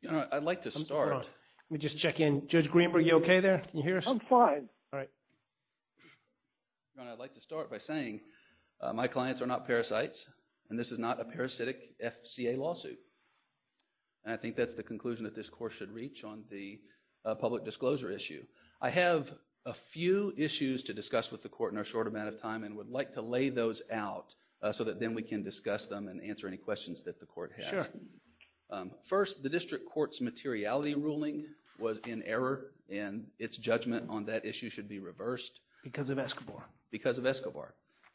You know, I'd like to start. Let me just check in. Judge Greenberg, are you okay there? Can you hear us? I'm fine. All right. I'd like to start by saying my clients are not parasites, and this is not a parasitic FCA lawsuit. And I think that's the conclusion that this court should reach on the public disclosure issue. I have a few issues to discuss with the court in our short amount of time and would like to lay those out so that then we can discuss them and answer any questions that the court has. First, the district court's materiality ruling was in error and its judgment on that issue should be reversed. Because of Escobar. Because of Escobar.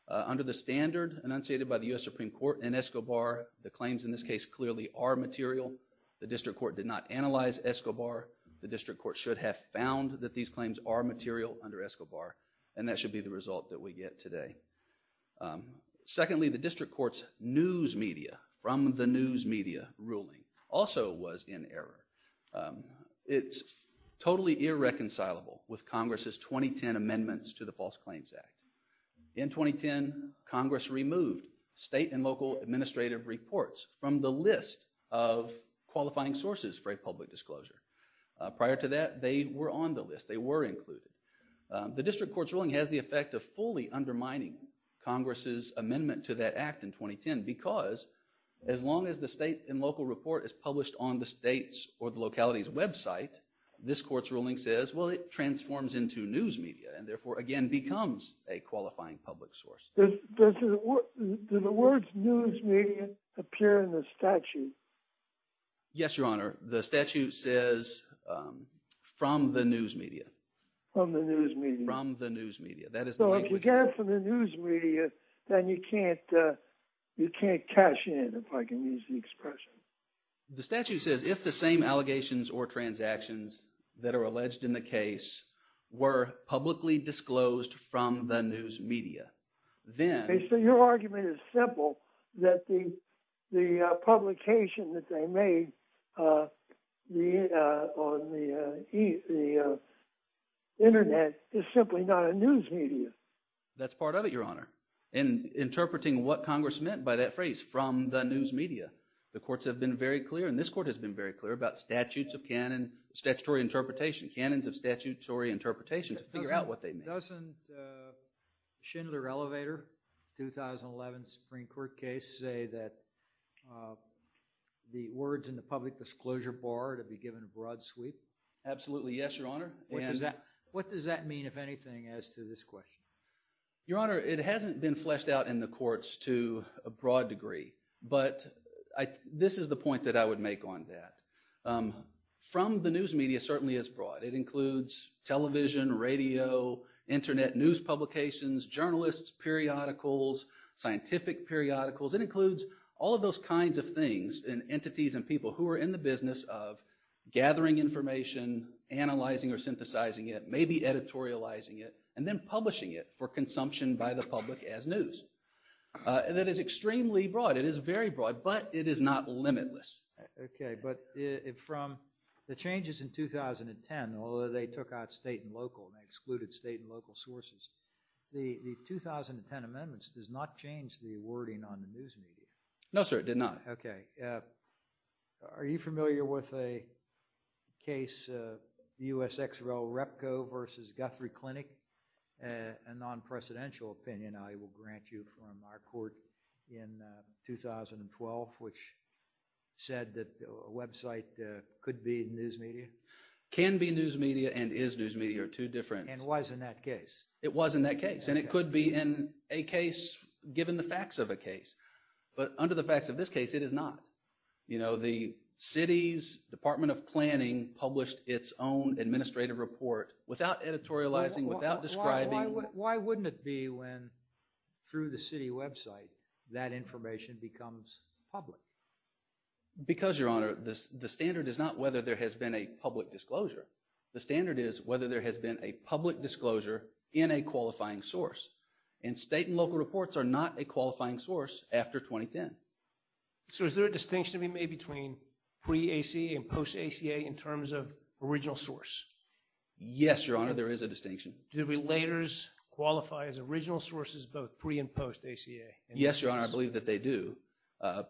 Under the standard enunciated by the US Supreme Court in Escobar, the claims in this case clearly are material. The district court did not analyze Escobar. The district court should have found that these claims are material under Escobar, and that should be the result that we get today. Secondly, the district court's news media, from the news media ruling, also was in error. It's totally irreconcilable with Congress's 2010 amendments to the False Claims Act. In 2010, Congress removed state and local administrative reports from the list of qualifying sources for a public disclosure. Prior to that, they were on the list. They were included. The district court's ruling has the effect of fully undermining Congress's amendment to that act in 2010, because as long as the state and local report is published on the state's or the locality's website, this court's ruling says, well, it transforms into news media, and therefore, again, becomes a qualifying public source. Does the word news media appear in the statute? Yes, Your Honor. The statute says from the news media. From the news media. From the news media. So if we get it from the news media, then you can't cash in, if I can use the expression. The statute says, if the same allegations or transactions that are alleged in the case were publicly disclosed from the news media, then... Okay, so your argument is simple, that the publication that they made on the internet is simply not a news media. That's part of it, Your Honor. Interpreting what Congress meant by that phrase, from the news media. The courts have been very clear, and this court has been very clear, about statutes of canon, statutory interpretation, canons of statutory interpretation, to figure out what they mean. Doesn't Schindler-Elevator, 2011 Supreme Court case, say that the words in the public disclosure bar to be given a broad sweep? Absolutely, yes, Your Honor. What does that mean, if anything, as to this question? Your Honor, it hasn't been fleshed out in the courts to a broad degree, but this is the point that I would make on that. From the news media certainly is broad. It includes television, radio, internet news publications, journalists, periodicals, scientific periodicals. It includes all of those kinds of things, and entities and people who are in the business of gathering information, analyzing or synthesizing it, maybe editorializing it, and then publishing it for consumption by the public as news. And that is extremely broad. It is very broad, but it is not limitless. Okay, but from the changes in 2010, although they took out state and local and excluded state and local sources, the 2010 amendments does not change the wording on the news media. No, sir, it did not. Okay. Are you familiar with a case, USXREL-REPCO versus Guthrie Clinic, a non-precedential opinion I will grant you from our court in 2012, which said that a website could be news media? Can be news media and is news media are two different. And was in that case? It was in that case, and it could be in a case given the facts of a case. But under the facts of this case, it is not. You know, the city's Department of Planning published its own administrative report without editorializing, without describing. Why wouldn't it be when through the city website that information becomes public? Because, Your Honor, the standard is not whether there has been a public disclosure. The standard is whether there has been a public disclosure in a qualifying source. And state and local reports are not a qualifying source after 2010. So is there a distinction to be made between pre-ACA and post-ACA in terms of original source? Yes, Your Honor, there is a distinction. Do the relators qualify as original sources both pre and post-ACA? Yes, Your Honor, I believe that they do.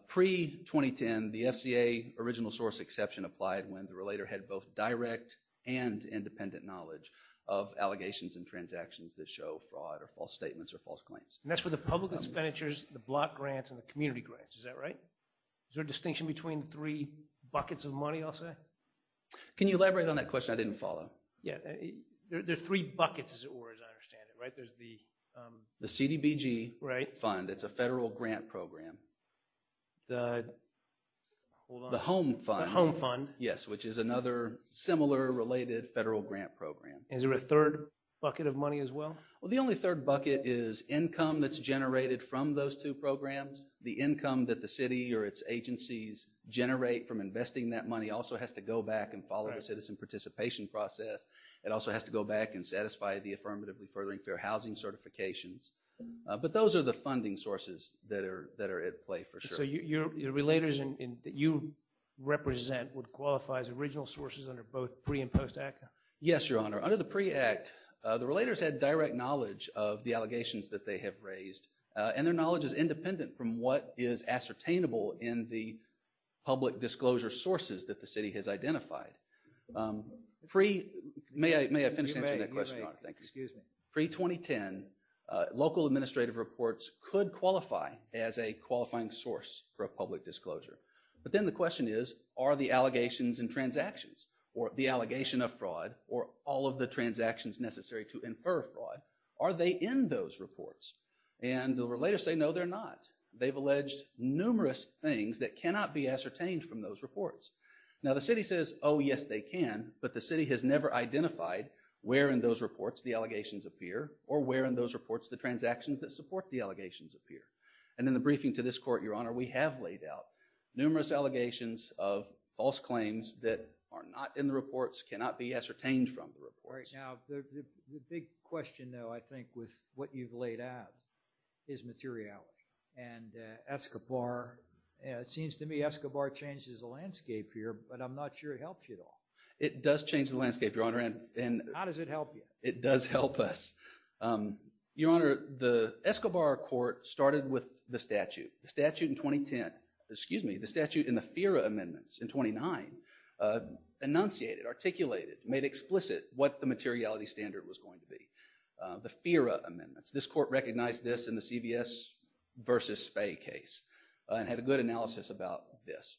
Pre-2010, the FCA original source exception applied when the relator had both direct and independent knowledge of allegations and transactions that show fraud or false statements or false claims. And that's for the public expenditures, the block grants, and the community grants. Is that right? Is there a distinction between three buckets of money, I'll say? Can you elaborate on that question? I didn't follow. Yeah, there are three buckets, as it were, as I understand it, right? There's the CDBG Fund. It's a federal grant program. The... The Home Fund. The Home Fund. Yes, which is another similar related federal grant program. Is there a third bucket of money as well? Well, the only third bucket is income that's generated from those two programs. The income that the city or its agencies generate from investing that money also has to go back and follow the citizen participation process. It also has to go back and satisfy the Affirmative Referring Fair Housing Certifications. But those are the funding sources that are at play, for sure. So your relators that you represent would qualify as original sources under both pre- and post-act? Yes, Your Honor. Under the pre-act, the relators had direct knowledge of the allegations that they have raised, and their knowledge is independent from what is ascertainable in the public disclosure sources that the city has identified. Pre... May I finish answering that question, Your Honor? Excuse me. Pre-2010, local administrative reports could qualify as a qualifying source for a public disclosure. But then the question is, are the allegations and transactions, or the allegation of fraud, or all of the transactions necessary to infer fraud, are they in those reports? And the relators say, no, they're not. They've alleged numerous things that cannot be ascertained from those reports. Now the city says, oh, yes, they can, but the city has never identified where in those reports the allegations appear, or where in those reports the transactions that support the allegations appear. And in the briefing to this Court, Your Honor, we have laid out numerous allegations of false claims that are not in the reports, cannot be ascertained from the reports. All right. Now, the big question, though, I think, with what you've laid out, is materiality. And it does change the landscape, Your Honor. How does it help you? It does help us. Your Honor, the Escobar Court started with the statute. The statute in 2010, excuse me, the statute in the FERA amendments in 29 enunciated, articulated, made explicit what the materiality standard was going to be. The FERA amendments. This Court recognized this in the CBS versus Spey case, and had a good analysis about this.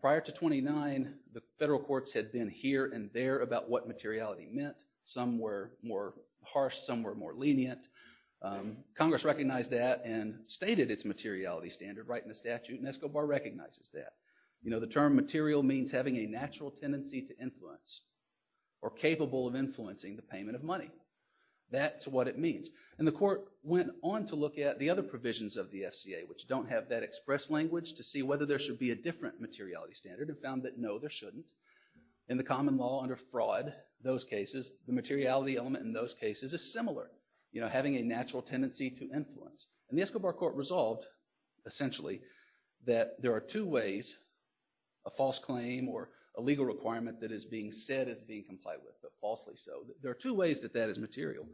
Prior to 29, the federal courts had been here and there about what materiality meant. Some were more harsh, some were more lenient. Congress recognized that and stated its materiality standard right in the statute, and Escobar recognizes that. You know, the term material means having a natural tendency to influence, or capable of influencing the payment of money. That's what it means. And the Court went on to look at the other provisions of the FCA, which don't have that different materiality standard, and found that, no, there shouldn't. In the common law under fraud, those cases, the materiality element in those cases is similar. You know, having a natural tendency to influence. And the Escobar Court resolved, essentially, that there are two ways, a false claim or a legal requirement that is being said as being complied with, but falsely so. There are two ways that that is material.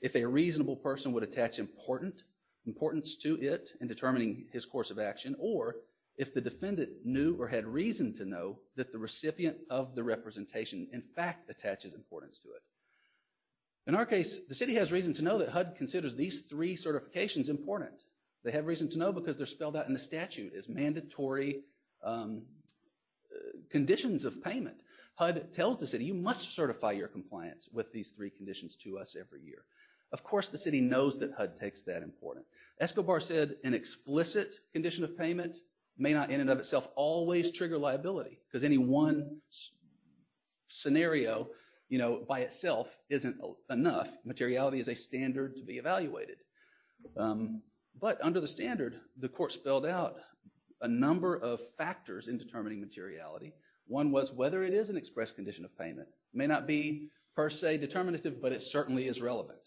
If a reasonable person would attach important, importance to it in determining his course of action, or if the defendant knew or had reason to know that the recipient of the representation, in fact, attaches importance to it. In our case, the city has reason to know that HUD considers these three certifications important. They have reason to know because they're spelled out in the statute as mandatory conditions of payment. HUD tells the city, you must certify your compliance with these three conditions to us every year. Of course, the city knows that HUD takes that important. Escobar said an explicit condition of payment may not, in and of itself, always trigger liability, because any one scenario, you know, by itself isn't enough. Materiality is a standard to be evaluated. But under the standard, the court spelled out a number of factors in determining materiality. One was whether it is an express condition of payment. May not be, per se, determinative, but it certainly is relevant.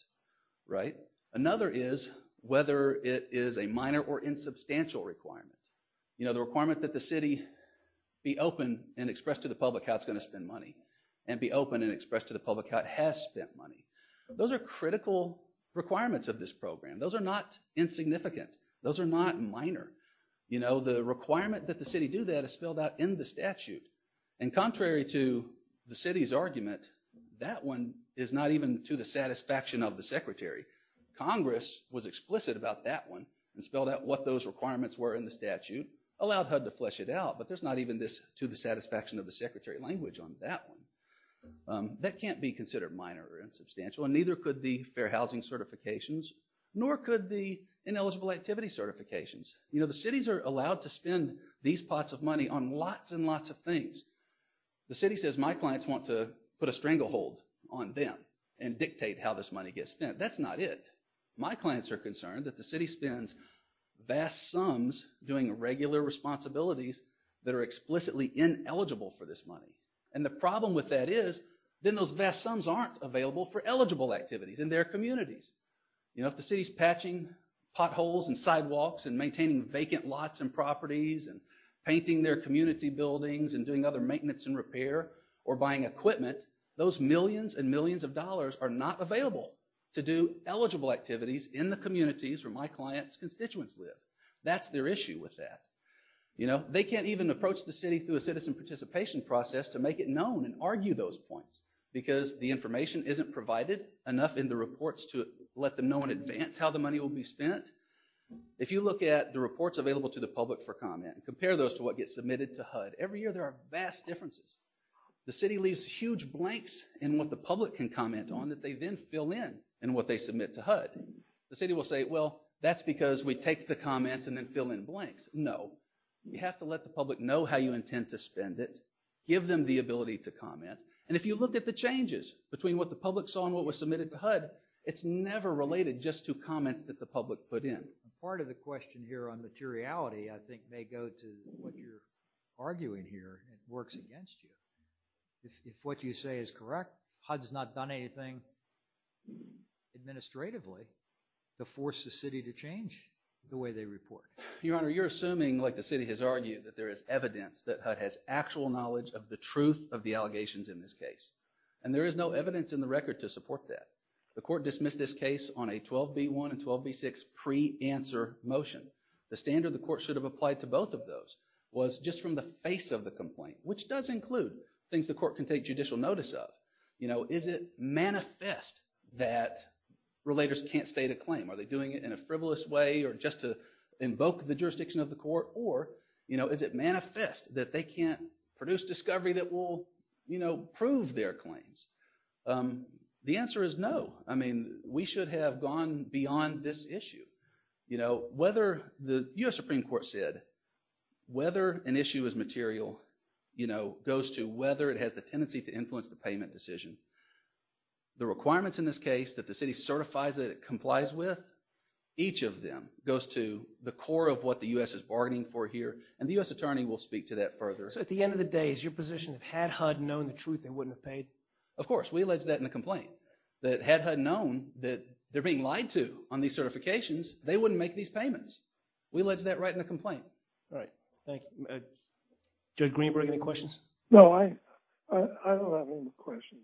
Right? Another is whether it is a minor or insubstantial requirement. You know, the requirement that the city be open and express to the public how it's going to spend money, and be open and express to the public how it has spent money. Those are critical requirements of this program. Those are not insignificant. Those are not minor. You know, the requirement that the city do that is spelled out in the statute, and Congress was explicit about that one, and spelled out what those requirements were in the statute, allowed HUD to flesh it out, but there's not even this to the satisfaction of the secretary language on that one. That can't be considered minor or insubstantial, and neither could the fair housing certifications, nor could the ineligible activity certifications. You know, the cities are allowed to spend these pots of money on lots and lots of things. The city says my clients want to put a stranglehold on them and dictate how this money gets spent. That's not it. My clients are concerned that the city spends vast sums doing regular responsibilities that are explicitly ineligible for this money, and the problem with that is then those vast sums aren't available for eligible activities in their communities. You know, if the city's patching potholes and sidewalks, and maintaining vacant lots and properties, and painting their community buildings, and doing other maintenance and repair, or buying equipment, those millions and millions of dollars are not available to do eligible activities in the communities where my clients constituents live. That's their issue with that. You know, they can't even approach the city through a citizen participation process to make it known and argue those points, because the information isn't provided enough in the reports to let them know in advance how the money will be spent, if you look at the reports available to the public for comment, and compare those to what gets submitted to HUD, every year there are vast differences. The city leaves huge blanks in what the public can comment on that they then fill in in what they submit to HUD. The city will say, well, that's because we take the comments and then fill in blanks. No, you have to let the public know how you intend to spend it, give them the ability to comment, and if you look at the changes between what the public saw and what was submitted to HUD, it's never related just to comments that the public put in. Part of the question here on materiality, I think, may go to what you're arguing here, and it works against you. If what you say is correct, HUD's not done anything administratively to force the city to change the way they report. Your Honor, you're assuming, like the city has argued, that there is evidence that HUD has actual knowledge of the truth of the allegations in this case, and there is no evidence in the record to support that. The court dismissed this case on a 12b-1 and 12b-6 pre-answer motion. The standard the court should have applied to both of those was just from the face of the complaint, which does include things the court can take judicial notice of. You know, is it manifest that relators can't state a claim? Are they doing it in a frivolous way or just to invoke the jurisdiction of the court? Or, you know, is it manifest that they can't produce discovery that will, you know, prove their claims? The answer is no. I mean, we should have gone beyond this issue. You know, whether the US Supreme Court said whether an issue is material, you know, goes to whether it has the tendency to influence the payment decision. The requirements in this case that the city certifies that it complies with, each of them goes to the core of what the US is bargaining for here, and the US attorney will speak to that further. So, at the end of the day, is your position that had HUD known the truth, they wouldn't have paid? Of course, we allege that in the complaint. That had HUD known that they're being lied to on these certifications, they wouldn't make these payments. We allege that right in the complaint. Judge Greenberg, any questions? No, I don't have any questions.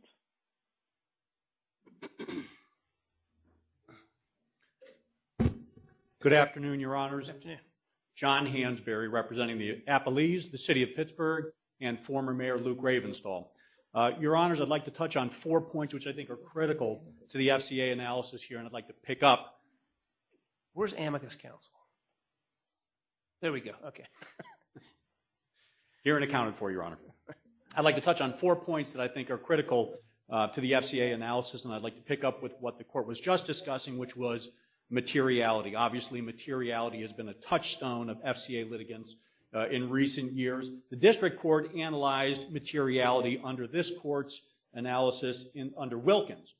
Good afternoon, Your Honors. John Hansberry, representing the Appalese, the City of Pittsburgh, and former Mayor Lou Gravenstahl. Your Honors, I'd like to touch on four points, which I think are critical to the FCA analysis here, and I'd like to pick up... Where's Amicus Counsel? There we go, okay. Here and accounted for, Your Honor. I'd like to touch on four points that I think are critical to the FCA analysis, and I'd like to pick up with what the court was just discussing, which was materiality. Obviously, materiality has been a touchstone of FCA litigants in recent years. The district court analyzed materiality under this court's analysis under Wilkins,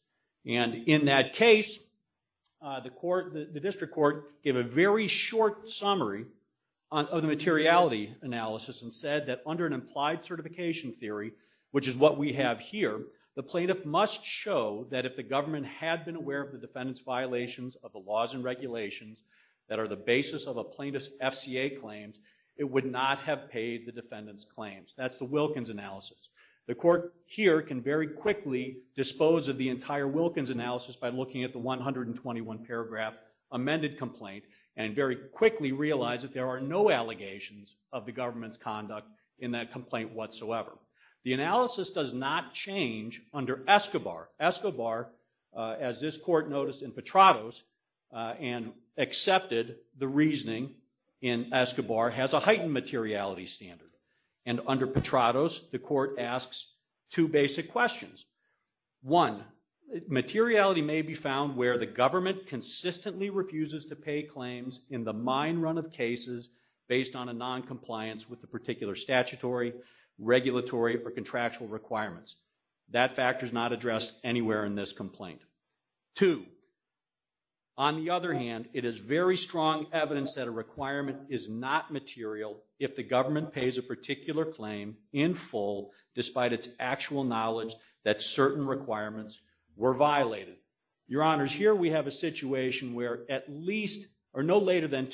and in that case, the court, the district court, gave a very short summary of the materiality analysis and said that under an implied certification theory, which is what we have here, the plaintiff must show that if the government had been aware of the defendant's laws and regulations that are the basis of a plaintiff's FCA claims, it would not have paid the defendant's claims. That's the Wilkins analysis. The court here can very quickly dispose of the entire Wilkins analysis by looking at the 121 paragraph amended complaint, and very quickly realize that there are no allegations of the government's conduct in that complaint whatsoever. The analysis does not change under Escobar. Escobar, as this court noticed in Petrados and accepted the reasoning in Escobar, has a heightened materiality standard, and under Petrados, the court asks two basic questions. One, materiality may be found where the government consistently refuses to pay claims in the mine run of cases based on a non-compliance with the particular statutory, regulatory, or contractual requirements. That factor is not addressed anywhere in this complaint. Two, on the other hand, it is very strong evidence that a requirement is not material if the government pays a particular claim in full, despite its actual knowledge that certain requirements were violated. Your Honors, here we have a situation where at least, or no later than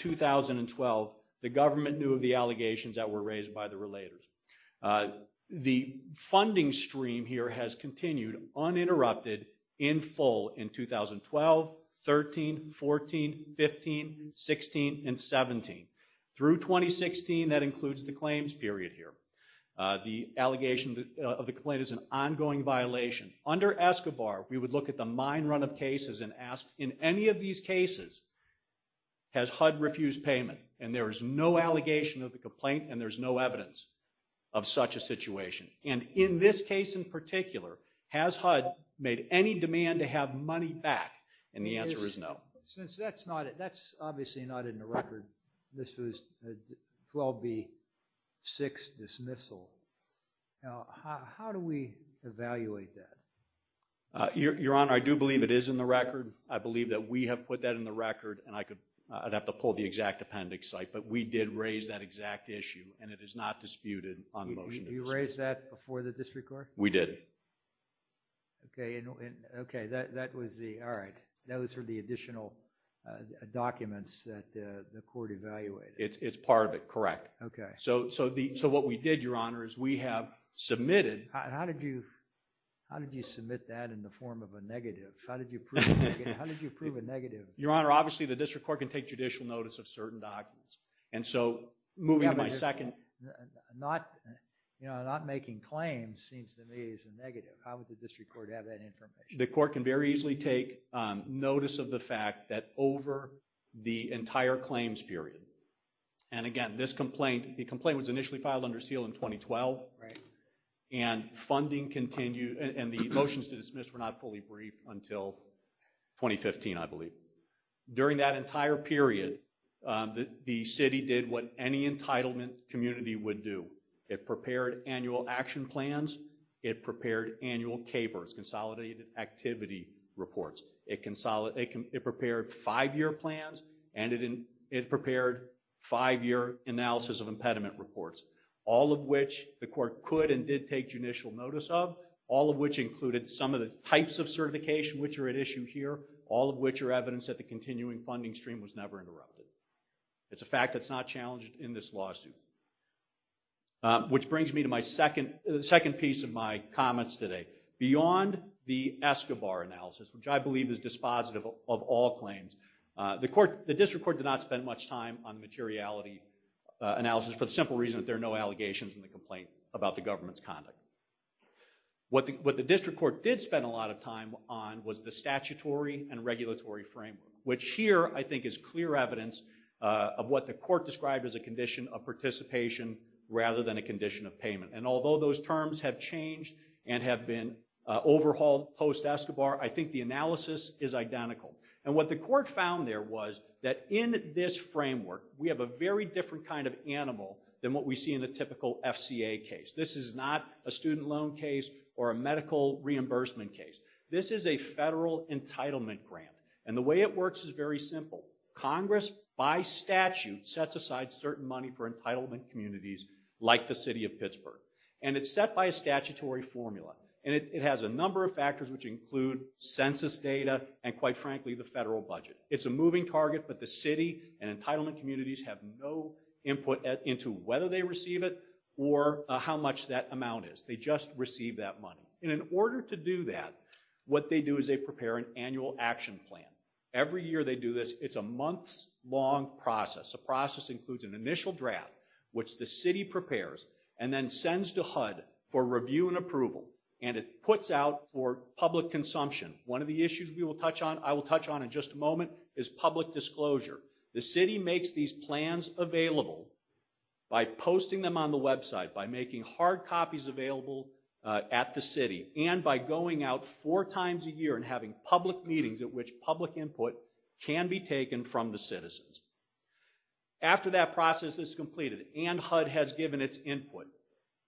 the funding stream here has continued uninterrupted in full in 2012, 13, 14, 15, 16, and 17. Through 2016, that includes the claims period here. The allegation of the complaint is an ongoing violation. Under Escobar, we would look at the mine run of cases and ask, in any of these cases, has HUD refused payment? And there is no allegation of the complaint, and there's no evidence. Of such a situation, and in this case in particular, has HUD made any demand to have money back? And the answer is no. Since that's not it, that's obviously not in the record. This was 12B, 6, dismissal. Now, how do we evaluate that? Your Honor, I do believe it is in the record. I believe that we have put that in the record, and I could, I'd have to pull the exact appendix site, but we did raise that exact issue, and it is not disputed on motion. You raised that before the district court? We did. Okay, and okay, that was the, all right, those are the additional documents that the court evaluated. It's part of it, correct. Okay. So, so the, so what we did, Your Honor, is we have submitted. How did you, how did you submit that in the form of a negative? How did you prove a negative? Your Honor, obviously the district court can take judicial notice of certain documents, and so moving to my second, not, you know, not making claims seems to me as a negative. How would the district court have that information? The court can very easily take notice of the fact that over the entire claims period, and again, this complaint, the complaint was initially filed under seal in 2012, right, and funding continued, and the motions to dismiss were not fully briefed until 2015, I believe. During that entire period, the city did what any entitlement community would do. It prepared annual action plans. It prepared annual KPERS, consolidated activity reports. It consolidated, it prepared five-year plans, and it in, it prepared five-year analysis of impediment reports, all of which the court could and did take judicial notice of, all of which included some of the issue here, all of which are evidence that the continuing funding stream was never interrupted. It's a fact that's not challenged in this lawsuit. Which brings me to my second, the second piece of my comments today. Beyond the Escobar analysis, which I believe is dispositive of all claims, the court, the district court did not spend much time on materiality analysis for the simple reason that there are no allegations in the complaint about the government's conduct. What the, what the district court did spend a lot of time on was the statutory and regulatory framework, which here I think is clear evidence of what the court described as a condition of participation rather than a condition of payment, and although those terms have changed and have been overhauled post-Escobar, I think the analysis is identical, and what the court found there was that in this framework we have a very different kind of animal than what we see in a typical FCA case. This is not a student loan case or a medical reimbursement case. This is a federal entitlement grant, and the way it works is very simple. Congress, by statute, sets aside certain money for entitlement communities like the city of Pittsburgh, and it's set by a statutory formula, and it has a number of factors which include census data and, quite frankly, the federal budget. It's a moving target, but the city and entitlement communities have no input into whether they receive it or how much that amount is. They just receive that money, and in order to do that, what they do is they prepare an annual action plan. Every year they do this. It's a month's long process. A process includes an initial draft, which the city prepares and then sends to HUD for review and approval, and it puts out for public consumption. One of the issues we will touch on, I will touch on in just a moment, is public disclosure. The city makes these plans available by posting them on the website, by making hard copies available at the city, and by going out four times a year and having public meetings at which public input can be taken from the citizens. After that process is completed and HUD has given its input,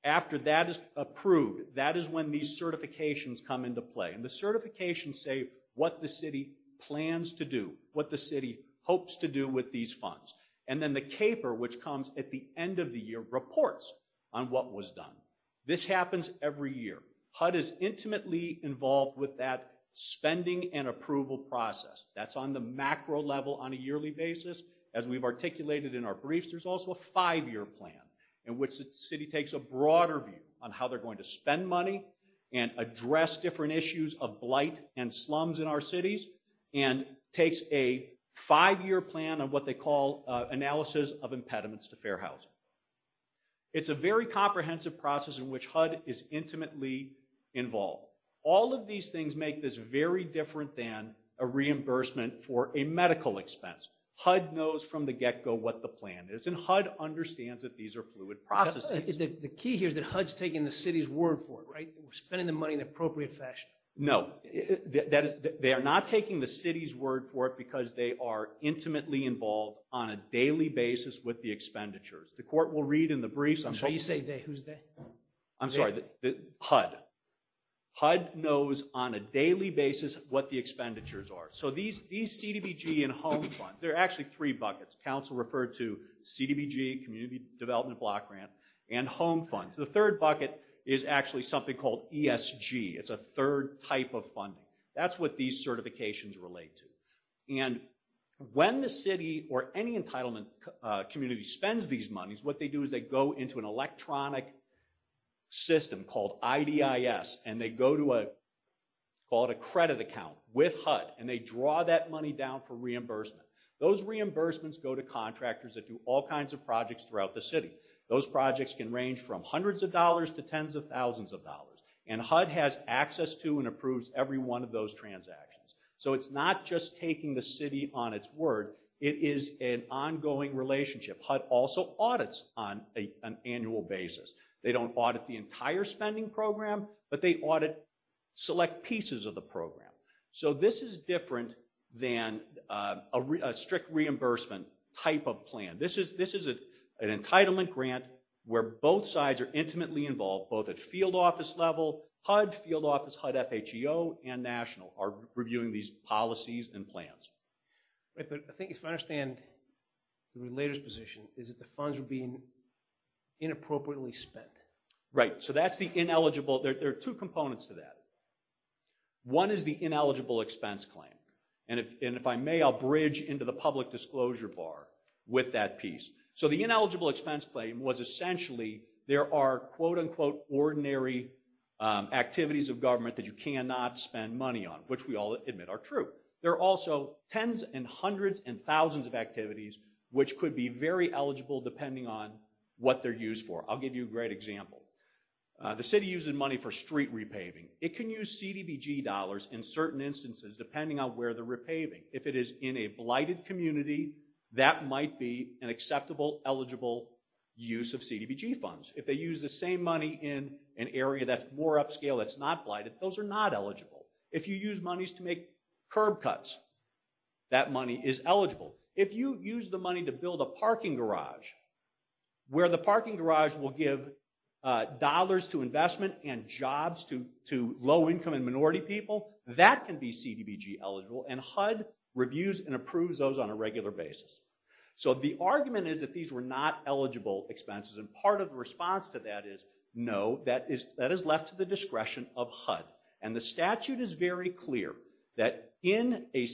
after that is approved, that is when these certifications come into play, and the certifications say what the city plans to do, what the city hopes to do with these funds, and then the CAPER, which comes at the end of the year, reports on what was done. This happens every year. HUD is intimately involved with that spending and approval process. That's on the macro level on a yearly basis. As we've articulated in our briefs, there's also a five-year plan in which the city takes a broader view on how they're going to spend money and address different issues of blight and slums in our cities, and takes a five-year plan of what they call analysis of impediments to fair housing. It's a very comprehensive process in which HUD is intimately involved. All of these things make this very different than a reimbursement for a medical expense. HUD knows from the get-go what the plan is, and HUD understands that these are fluid processes. The key here is that HUD's taking the city's word for it, right? We're spending the money in the appropriate fashion. No. They are not taking the city's word for it because they are intimately involved on a daily basis with the expenditures. The court will read in the briefs. So you say they, who's they? I'm sorry, HUD. HUD knows on a daily basis what the expenditures are. So these CDBG and home funds, there are actually three buckets. Council referred to CDBG, Community Development Block Grant, and home funds. The third bucket is actually something called ESG. It's a third type of funding. That's what these certifications relate to. When the city or any entitlement community spends these monies, what they do is they go into an electronic system called IDIS, and they go to a credit account with HUD, and they draw that money down for reimbursement. Those reimbursements go to contractors that do all kinds of projects throughout the city. Those projects can range from hundreds of dollars to tens of thousands of dollars, and HUD has access to and approves every one of those transactions. So it's not just taking the city on its word. It is an ongoing relationship. HUD also audits on an annual basis. They don't audit the entire spending program, but they audit select pieces of the program. So this is different than a strict reimbursement type of plan. This is an entitlement grant where both sides are intimately involved, both at field office level, HUD field office, HUD FHEO, and national, are reviewing these policies and plans. But I think if I understand the relator's position, is that the funds are being inappropriately spent. Right, so that's the ineligible. There are two components to this. One is the ineligible expense claim, and if I may, I'll bridge into the public disclosure bar with that piece. So the ineligible expense claim was essentially, there are quote-unquote ordinary activities of government that you cannot spend money on, which we all admit are true. There are also tens and hundreds and thousands of activities, which could be very eligible depending on what they're used for. I'll give you a great example. The city uses money for street repaving. It can use CDBG dollars in certain instances depending on where they're repaving. If it is in a blighted community, that might be an acceptable, eligible use of CDBG funds. If they use the same money in an area that's more upscale, that's not blighted, those are not eligible. If you use monies to make curb cuts, that money is eligible. If you use the money to build a parking garage, where the parking garage will give dollars to investment and jobs to low-income and minority people, that can be CDBG eligible, and HUD reviews and approves those on a regular basis. So the argument is that these were not eligible expenses, and part of the response to that is, no, that is left to the discretion of HUD, and the statute is very clear that in a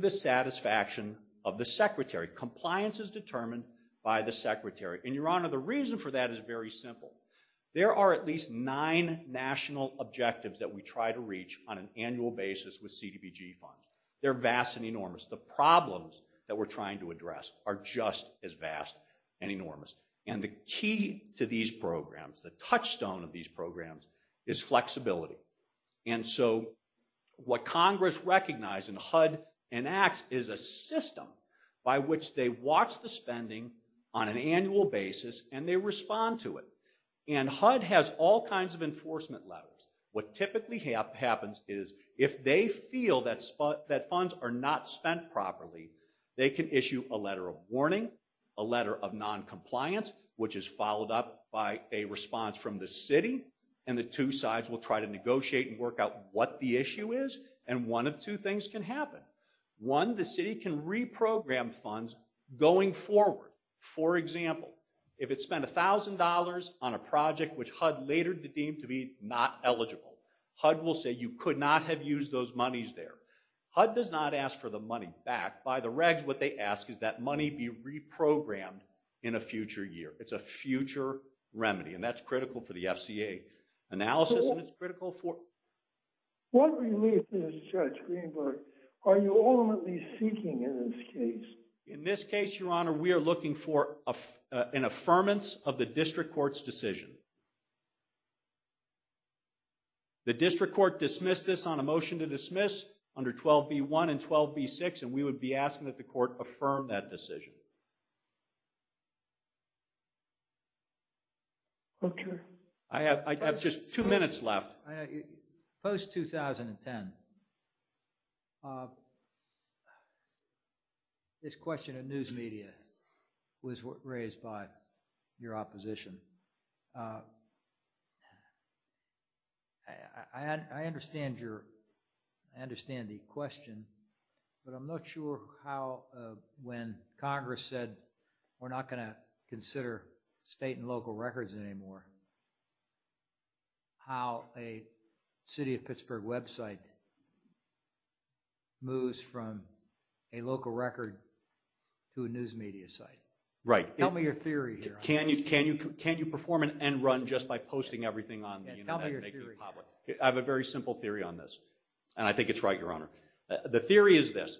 dissatisfaction of the Secretary, compliance is determined by the Secretary. And your honor, the reason for that is very simple. There are at least nine national objectives that we try to reach on an annual basis with CDBG funds. They're vast and enormous. The problems that we're trying to address are just as vast and enormous, and the key to these programs, the touchstone of these programs, is flexibility. And so what Congress recognized in HUD and ACTS is a system by which they watch the spending on an annual basis, and they respond to it. And HUD has all kinds of enforcement letters. What typically happens is if they feel that funds are not spent properly, they can issue a letter of warning, a letter of non-compliance, which is followed up by a response from the city, and the two sides will try to negotiate and work out what the issue is, and one of two things can happen. One, the city can reprogram funds going forward. For example, if it spent a thousand dollars on a project which HUD later deemed to be not eligible, HUD will say you could not have used those monies there. HUD does not ask for the money back. By the regs, what they ask is that money be reprogrammed in a future year. It's a future remedy, and that's critical for the FCA analysis, and it's critical for... What relief, Judge Greenberg, are you ultimately seeking in this case? In this case, Your Honor, we are looking for an affirmance of the district court's decision. The district court dismissed this on a motion to dismiss under 12b-1 and 12b-6, and we would be asking that the court affirm that decision. I have just two minutes left. Post-2010, this question of news media was raised by your opposition. I understand your... I understand the question, but I'm not sure how when Congress said we're not going to consider state and local records anymore, how a city of Pittsburgh website moves from a local record to a news media site. Right. Tell me your theory here. Can you perform an end run just by posting everything on the internet? I have a very simple theory on this, and I think it's right, Your Honor. The theory is this.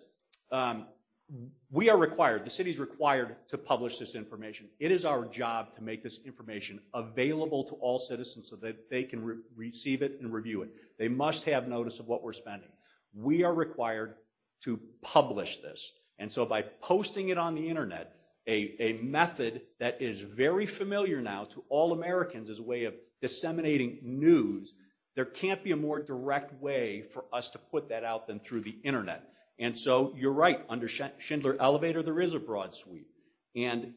We are required, the city's required, to publish this information. It is our job to make this information available to all citizens so that they can receive it and review it. They must have notice of what we're spending. We are required to publish this, and so by posting it on the internet, a method that is very familiar now to all Americans as a way of disseminating news, there can't be a more direct way for us to put that out than through the internet. And so you're right. Under Schindler-Elevator, there is a broad sweep, and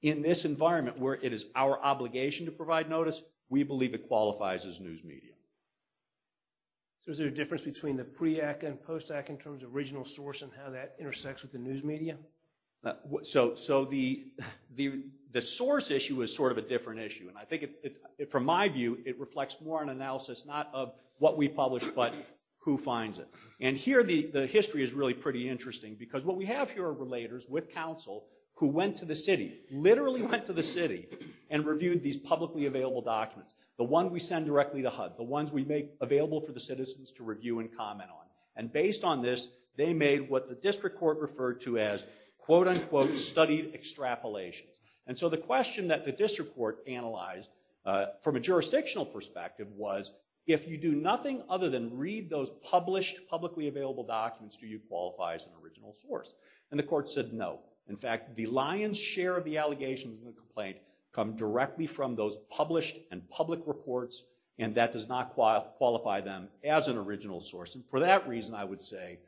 in this environment where it is our obligation to provide notice, we believe it qualifies as news media. So is there a difference between the pre-act and post-act in terms of regional source and how that intersects with the news media? So the source issue is sort of a different issue, and I think from my view it reflects more an analysis not of what we publish, but who finds it. And here the history is really pretty interesting because what we have here are relators with counsel who went to the city, literally went to the city, and these are the ones we make available for the citizens to review and comment on. And based on this, they made what the district court referred to as quote-unquote studied extrapolations. And so the question that the district court analyzed from a jurisdictional perspective was, if you do nothing other than read those published, publicly available documents, do you qualify as an original source? And the court said no. In fact, the lion's share of the allegations in the complaint come directly from those published and public reports, and that does not qualify them as an original source. And for that reason, I would say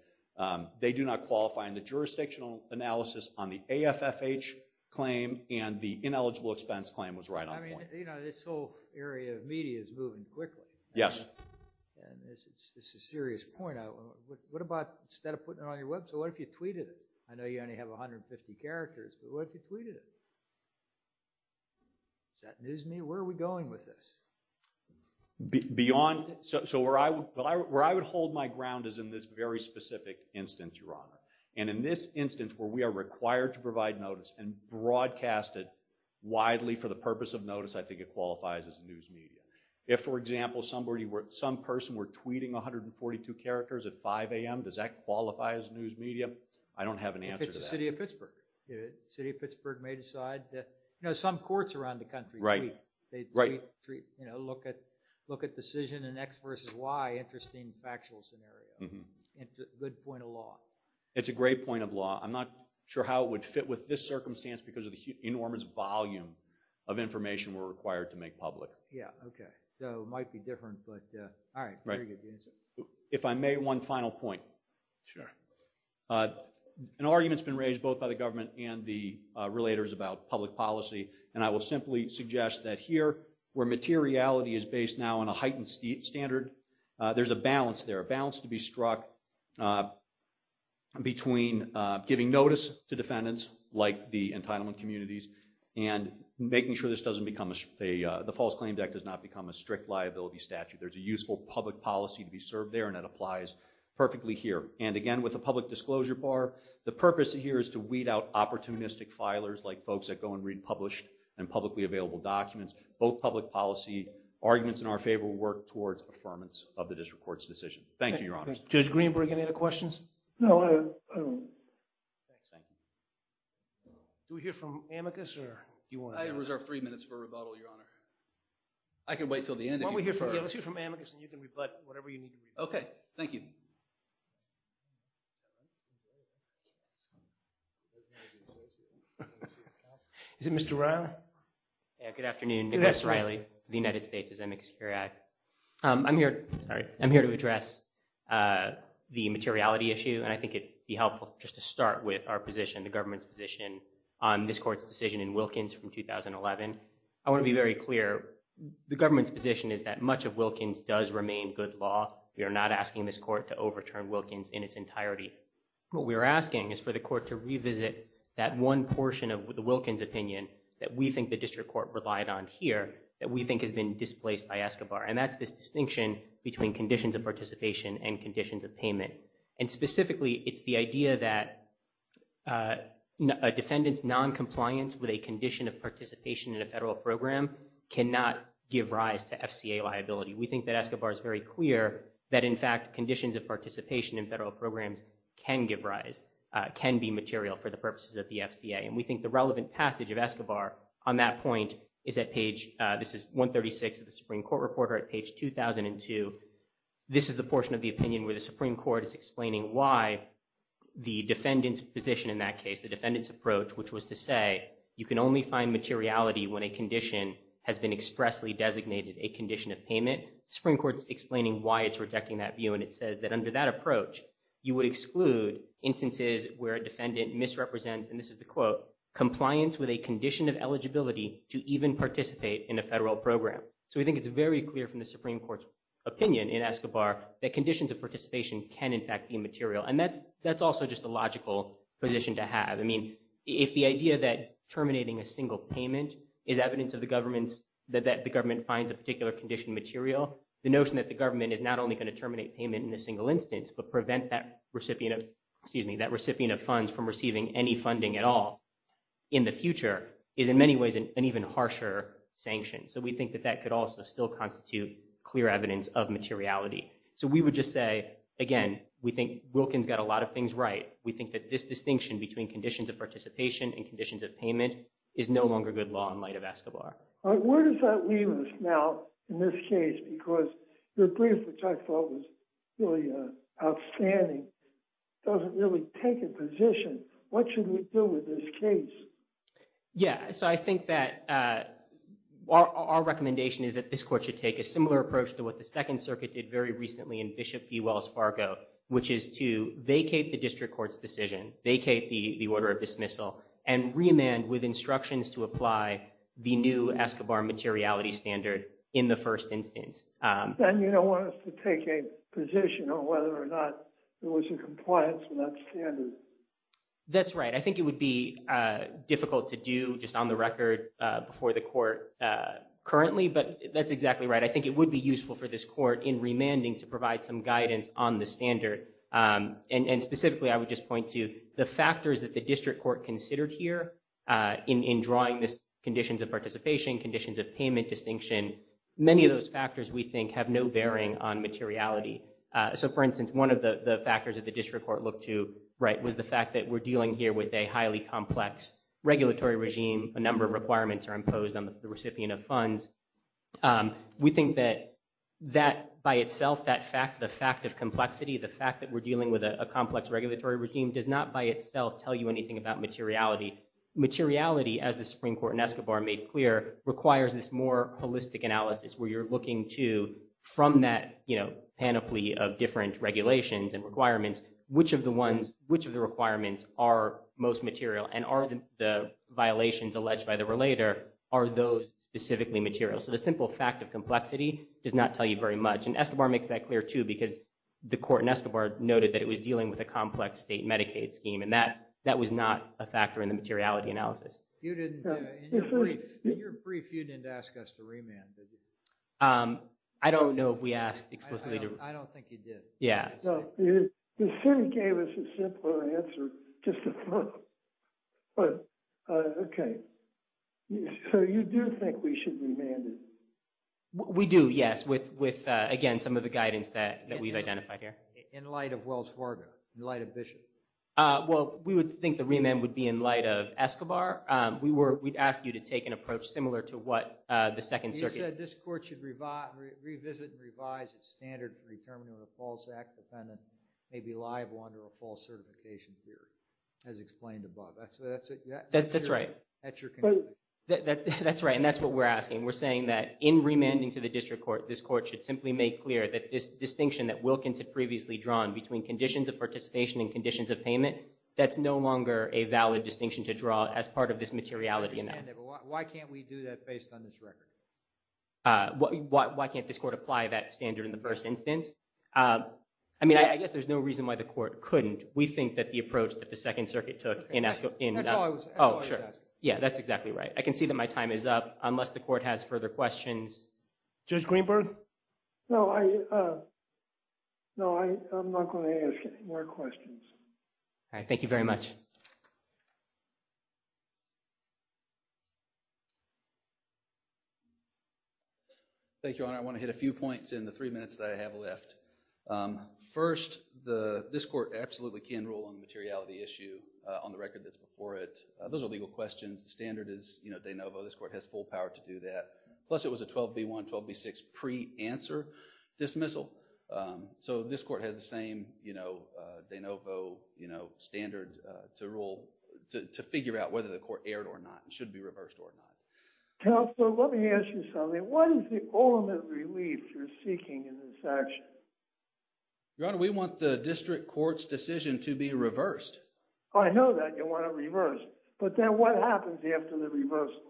they do not qualify in the jurisdictional analysis on the AFFH claim, and the ineligible expense claim was right on point. I mean, you know, this whole area of media is moving quickly. Yes. It's a serious point. What about instead of putting it on your website, what if you tweeted it? I know you only have 150 characters, but what if you tweeted it? Is that news to me? Where are we going with this? Beyond, so where I would hold my ground is in this very specific instance, Your Honor. And in this instance where we are required to provide notice and broadcast it widely for the purpose of notice, I think it qualifies as news media. If, for example, somebody were, some person were tweeting 142 characters at 5 a.m., does that qualify as news media? I don't have an answer to that. How about the City of Pittsburgh? The City of Pittsburgh may decide that, you know, some courts around the country. Right. Right. You know, look at, look at decision and X versus Y, interesting factual scenario. Good point of law. It's a great point of law. I'm not sure how it would fit with this circumstance because of the enormous volume of information we're required to make public. Yeah, okay, so it might be different, but all right. If I may, one final point. Sure. An argument's been raised both by the government and the relators about public policy, and I will simply suggest that here, where materiality is based now on a heightened standard, there's a balance there, a balance to be struck between giving notice to defendants, like the entitlement communities, and making sure this doesn't become a, the False Claims Act does not become a strict liability statute. There's a useful public policy to be served there, and that applies perfectly here. And again, with a public disclosure bar, the purpose here is to weed out opportunistic filers, like folks that go and read published and publicly available documents. Both public policy arguments in our favor will work towards affirmance of the district court's decision. Thank you, Your Honor. Judge Greenberg, any other questions? Do we hear from Amicus, or do you want to? I have reserved three minutes for rebuttal, Your Honor. I can wait till the end. Why don't we hear from Amicus, and you can rebut whatever you need to rebut. Okay, thank you. Is it Mr. Riley? Good afternoon, Nicholas Riley, United States, Amicus Superior Act. I'm here, sorry, I'm here to address the materiality issue, and I think it'd be helpful just to start with our position, the government's position, on this court's decision in Wilkins from 2011. I want to be very clear. The government's position is that much of Wilkins does remain good law. We are not asking this court to overturn Wilkins in its entirety. What we are asking is for the court to revisit that one portion of the Wilkins opinion that we think the district court relied on here, that we think has been displaced by Escobar, and that's this distinction between conditions of participation and conditions of payment. And specifically, it's the idea that a defendant's non-compliance with a condition of participation in a federal program cannot give rise to FCA liability. We think that Escobar is very clear that, in fact, conditions of participation in federal programs can give rise, can be material for the purposes of the FCA, and we think the relevant passage of Escobar on that point is at page, this is 136 of the Supreme Court Reporter at page 2002. This is the portion of the opinion where the Supreme Court is explaining why the defendant's position in that case, the defendant's approach, which was to say you can only find materiality when a condition has been expressly designated a condition of payment. Supreme Court's explaining why it's rejecting that view, and it says that under that approach you would exclude instances where a defendant misrepresents, and this is the quote, compliance with a condition of eligibility to even participate in a federal program. So we think it's very clear from the Supreme Court's opinion in Escobar that conditions of participation can, in fact, be material. And that's also just a logical position to have. I mean, if the idea that terminating a single payment is evidence of the government's, that the government finds a particular condition material, the notion that the government is not only going to terminate payment in a single instance, but prevent that recipient of, excuse me, that recipient of funds from receiving any funding at all in the future is in many ways an even harsher sanction. So we think that that could also still constitute clear evidence of materiality. So we would just say, again, we think Wilkins got a lot of things right. We think that this distinction between conditions of participation and conditions of payment is no longer good law in light of Escobar. All right, where does that leave us now, in this case, because the brief, which I thought was really outstanding, doesn't really take a position. What should we do with this case? Yeah, so I think that our recommendation is that this court should take a similar approach to what the Second Circuit did very recently in Bishop E. Wells Fargo, which is to vacate the district court's decision, vacate the order of dismissal, and remand with instructions to apply the new Escobar materiality standard in the first instance. Then you don't want us to take a position on whether or not there was a compliance with that standard. That's right. I think it would be on the record before the court currently, but that's exactly right. I think it would be useful for this court in remanding to provide some guidance on the standard. And specifically, I would just point to the factors that the district court considered here in drawing this conditions of participation, conditions of payment distinction. Many of those factors, we think, have no bearing on materiality. So for instance, one of the factors that the district court looked to, right, was the fact that we're dealing here with a highly complex regulatory regime, a number of requirements are imposed on the recipient of funds. We think that that by itself, that fact, the fact of complexity, the fact that we're dealing with a complex regulatory regime, does not by itself tell you anything about materiality. Materiality, as the Supreme Court in Escobar made clear, requires this more holistic analysis where you're looking to, from that, you know, panoply of different regulations and requirements, which of the ones, which of the requirements are most material, and are the violations alleged by the relator, are those specifically material? So the simple fact of complexity does not tell you very much. And Escobar makes that clear too, because the court in Escobar noted that it was dealing with a complex state Medicaid scheme, and that that was not a factor in the materiality analysis. In your brief, you didn't ask us to remand, did you? I don't know if we asked explicitly. I don't think you did. Yeah. You certainly gave us a simpler answer. Just a thought. But, okay. So you do think we should remand it? We do, yes. With, again, some of the guidance that we've identified here. In light of Wells Fargo? In light of Bishop? Well, we would think the remand would be in light of Escobar. We'd ask you to take an approach similar to what the Second Circuit... may be liable under a false certification here. As explained above. That's right. That's right, and that's what we're asking. We're saying that in remanding to the district court, this court should simply make clear that this distinction that Wilkins had previously drawn between conditions of participation and conditions of payment, that's no longer a valid distinction to draw as part of this materiality analysis. I understand that, but why can't we do that based on this record? Why can't this court apply that standard in the first instance? I mean, I guess there's no reason why the court couldn't. We think that the approach that the Second Circuit took in... That's all I was asking. Yeah, that's exactly right. I can see that my time is up, unless the court has further questions. Judge Greenberg? No, I... No, I'm not going to ask any more questions. All right, thank you very much. Thank you, Your Honor. I want to hit a few points in the three minutes that I have left. First, this court absolutely can rule on the materiality issue on the record that's before it. Those are legal questions. The standard is de novo. This court has full power to do that. Plus, it was a 12B1, 12B6 pre-answer dismissal. So this court has the same de novo standard to rule, to figure out whether the court erred or not. It should be reversed or not. Counsel, let me ask you something. What is the ultimate relief you're seeking in this action? Your Honor, we want the district court's decision to be reversed. I know that you want it reversed. But then what happens after the reversal?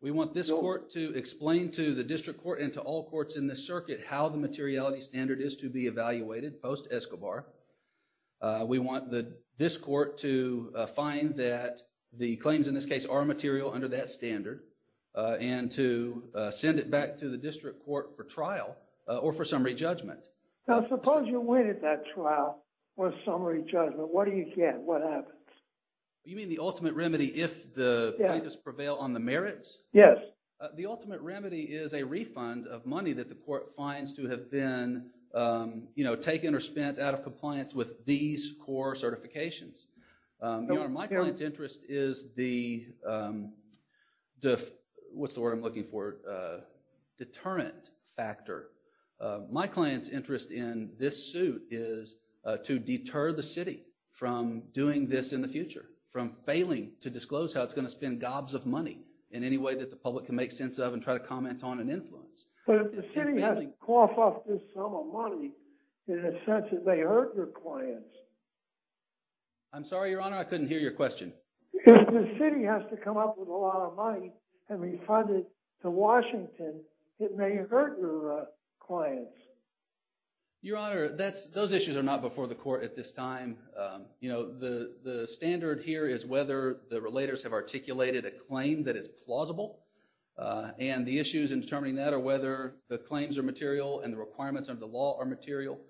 We want this court to explain to the district court and to all courts in this circuit how the materiality standard is to be evaluated post-Escobar. We want this court to find that the claims in this case are material under that standard. And to send it back to the district court for trial or for summary judgment. Now, suppose you win at that trial for summary judgment. What do you get? What happens? You mean the ultimate remedy if the plaintiffs prevail on the merits? Yes. The ultimate remedy is a refund of money that the court finds to have been taken or spent out of compliance with these core certifications. Your Honor, my client's interest is the deterrent factor. My client's interest in this suit is to deter the city from doing this in the future. From failing to disclose how it's going to spend gobs of money in any way that the public can make sense of and try to comment on and influence. But if the city has to cough up this sum of money, in a sense it may hurt your clients. I'm sorry, Your Honor, I couldn't hear your question. If the city has to come up with a lot of money and refund it to Washington, it may hurt your clients. Your Honor, those issues are not before the court at this time. The standard here is whether the relators have articulated a claim that is plausible. And the issues in determining that are whether the claims are material and the requirements of the law are material.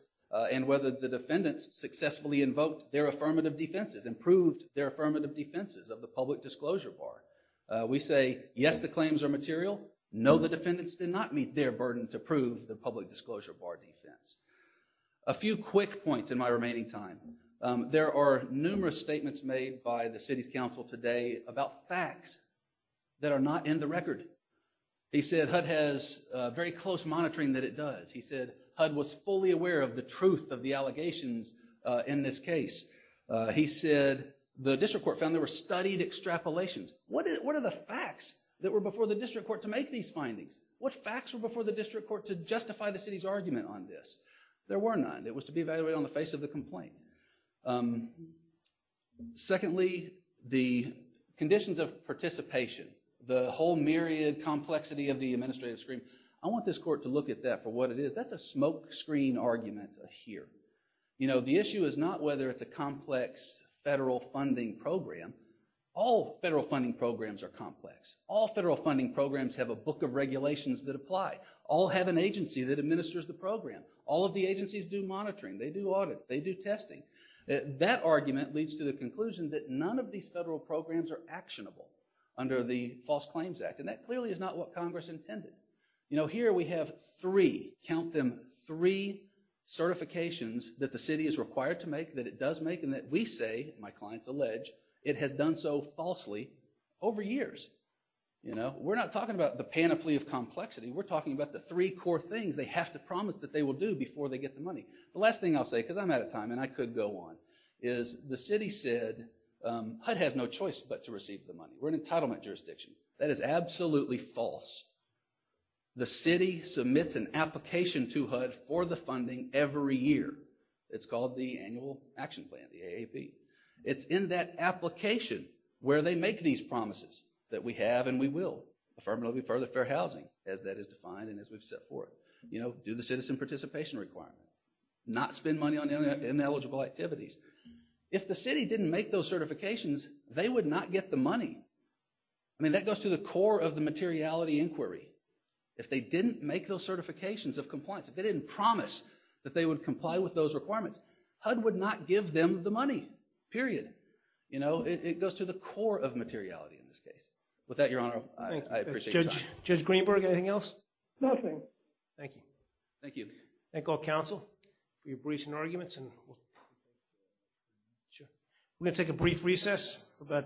And whether the defendants successfully invoked their affirmative defenses and proved their affirmative defenses of the public disclosure bar. We say, yes, the claims are material. No, the defendants did not meet their burden to prove the public disclosure bar defense. A few quick points in my remaining time. There are numerous statements made by the city's council today about facts that are not in the record. He said HUD has very close monitoring that it does. He said HUD was fully aware of the truth of the allegations in this case. He said the district court found there were studied extrapolations. What are the facts that were before the district court to make these findings? What facts were before the district court to justify the city's argument on this? There were none. It was to be evaluated on the face of the complaint. Secondly, the conditions of participation. The whole myriad complexity of the administrative screen. I want this court to look at that for what it is. That's a smoke screen argument here. You know, the issue is not whether it's a complex federal funding program. All federal funding programs are complex. All federal funding programs have a book of regulations that apply. All have an agency that administers the program. All of the agencies do monitoring. They do audits. They do testing. That argument leads to the conclusion that none of these federal programs are actionable under the False Claims Act, and that clearly is not what Congress intended. You know, here we have three, count them, three certifications that the city is required to make, that it does make, and that we say, my clients allege, it has done so falsely over years. You know, we're not talking about the panoply of complexity. We're talking about the three core things they have to promise that they will do before they get the money. The last thing I'll say, because I'm out of time and I could go on, is the city said HUD has no choice but to receive the money. We're an entitlement jurisdiction. That is absolutely false. The city submits an application to HUD for the funding every year. It's called the Annual Action Plan, the AAP. It's in that application where they make these promises that we have and we will. Affirmatively, further fair housing, as that is defined and as we've set forth. You know, do the citizen participation requirement. Not spend money on ineligible activities. If the city didn't make those certifications, they would not get the money. I mean, that goes to the core of the materiality inquiry. If they didn't make those certifications of compliance, if they didn't promise that they would comply with those requirements, HUD would not give them the money, period. You know, it goes to the core of materiality in this case. With that, Your Honor, I appreciate your time. Judge Greenberg, anything else? Nothing. Thank you. Thank you. Thank all counsel for your briefs and arguments. We're going to take a brief recess.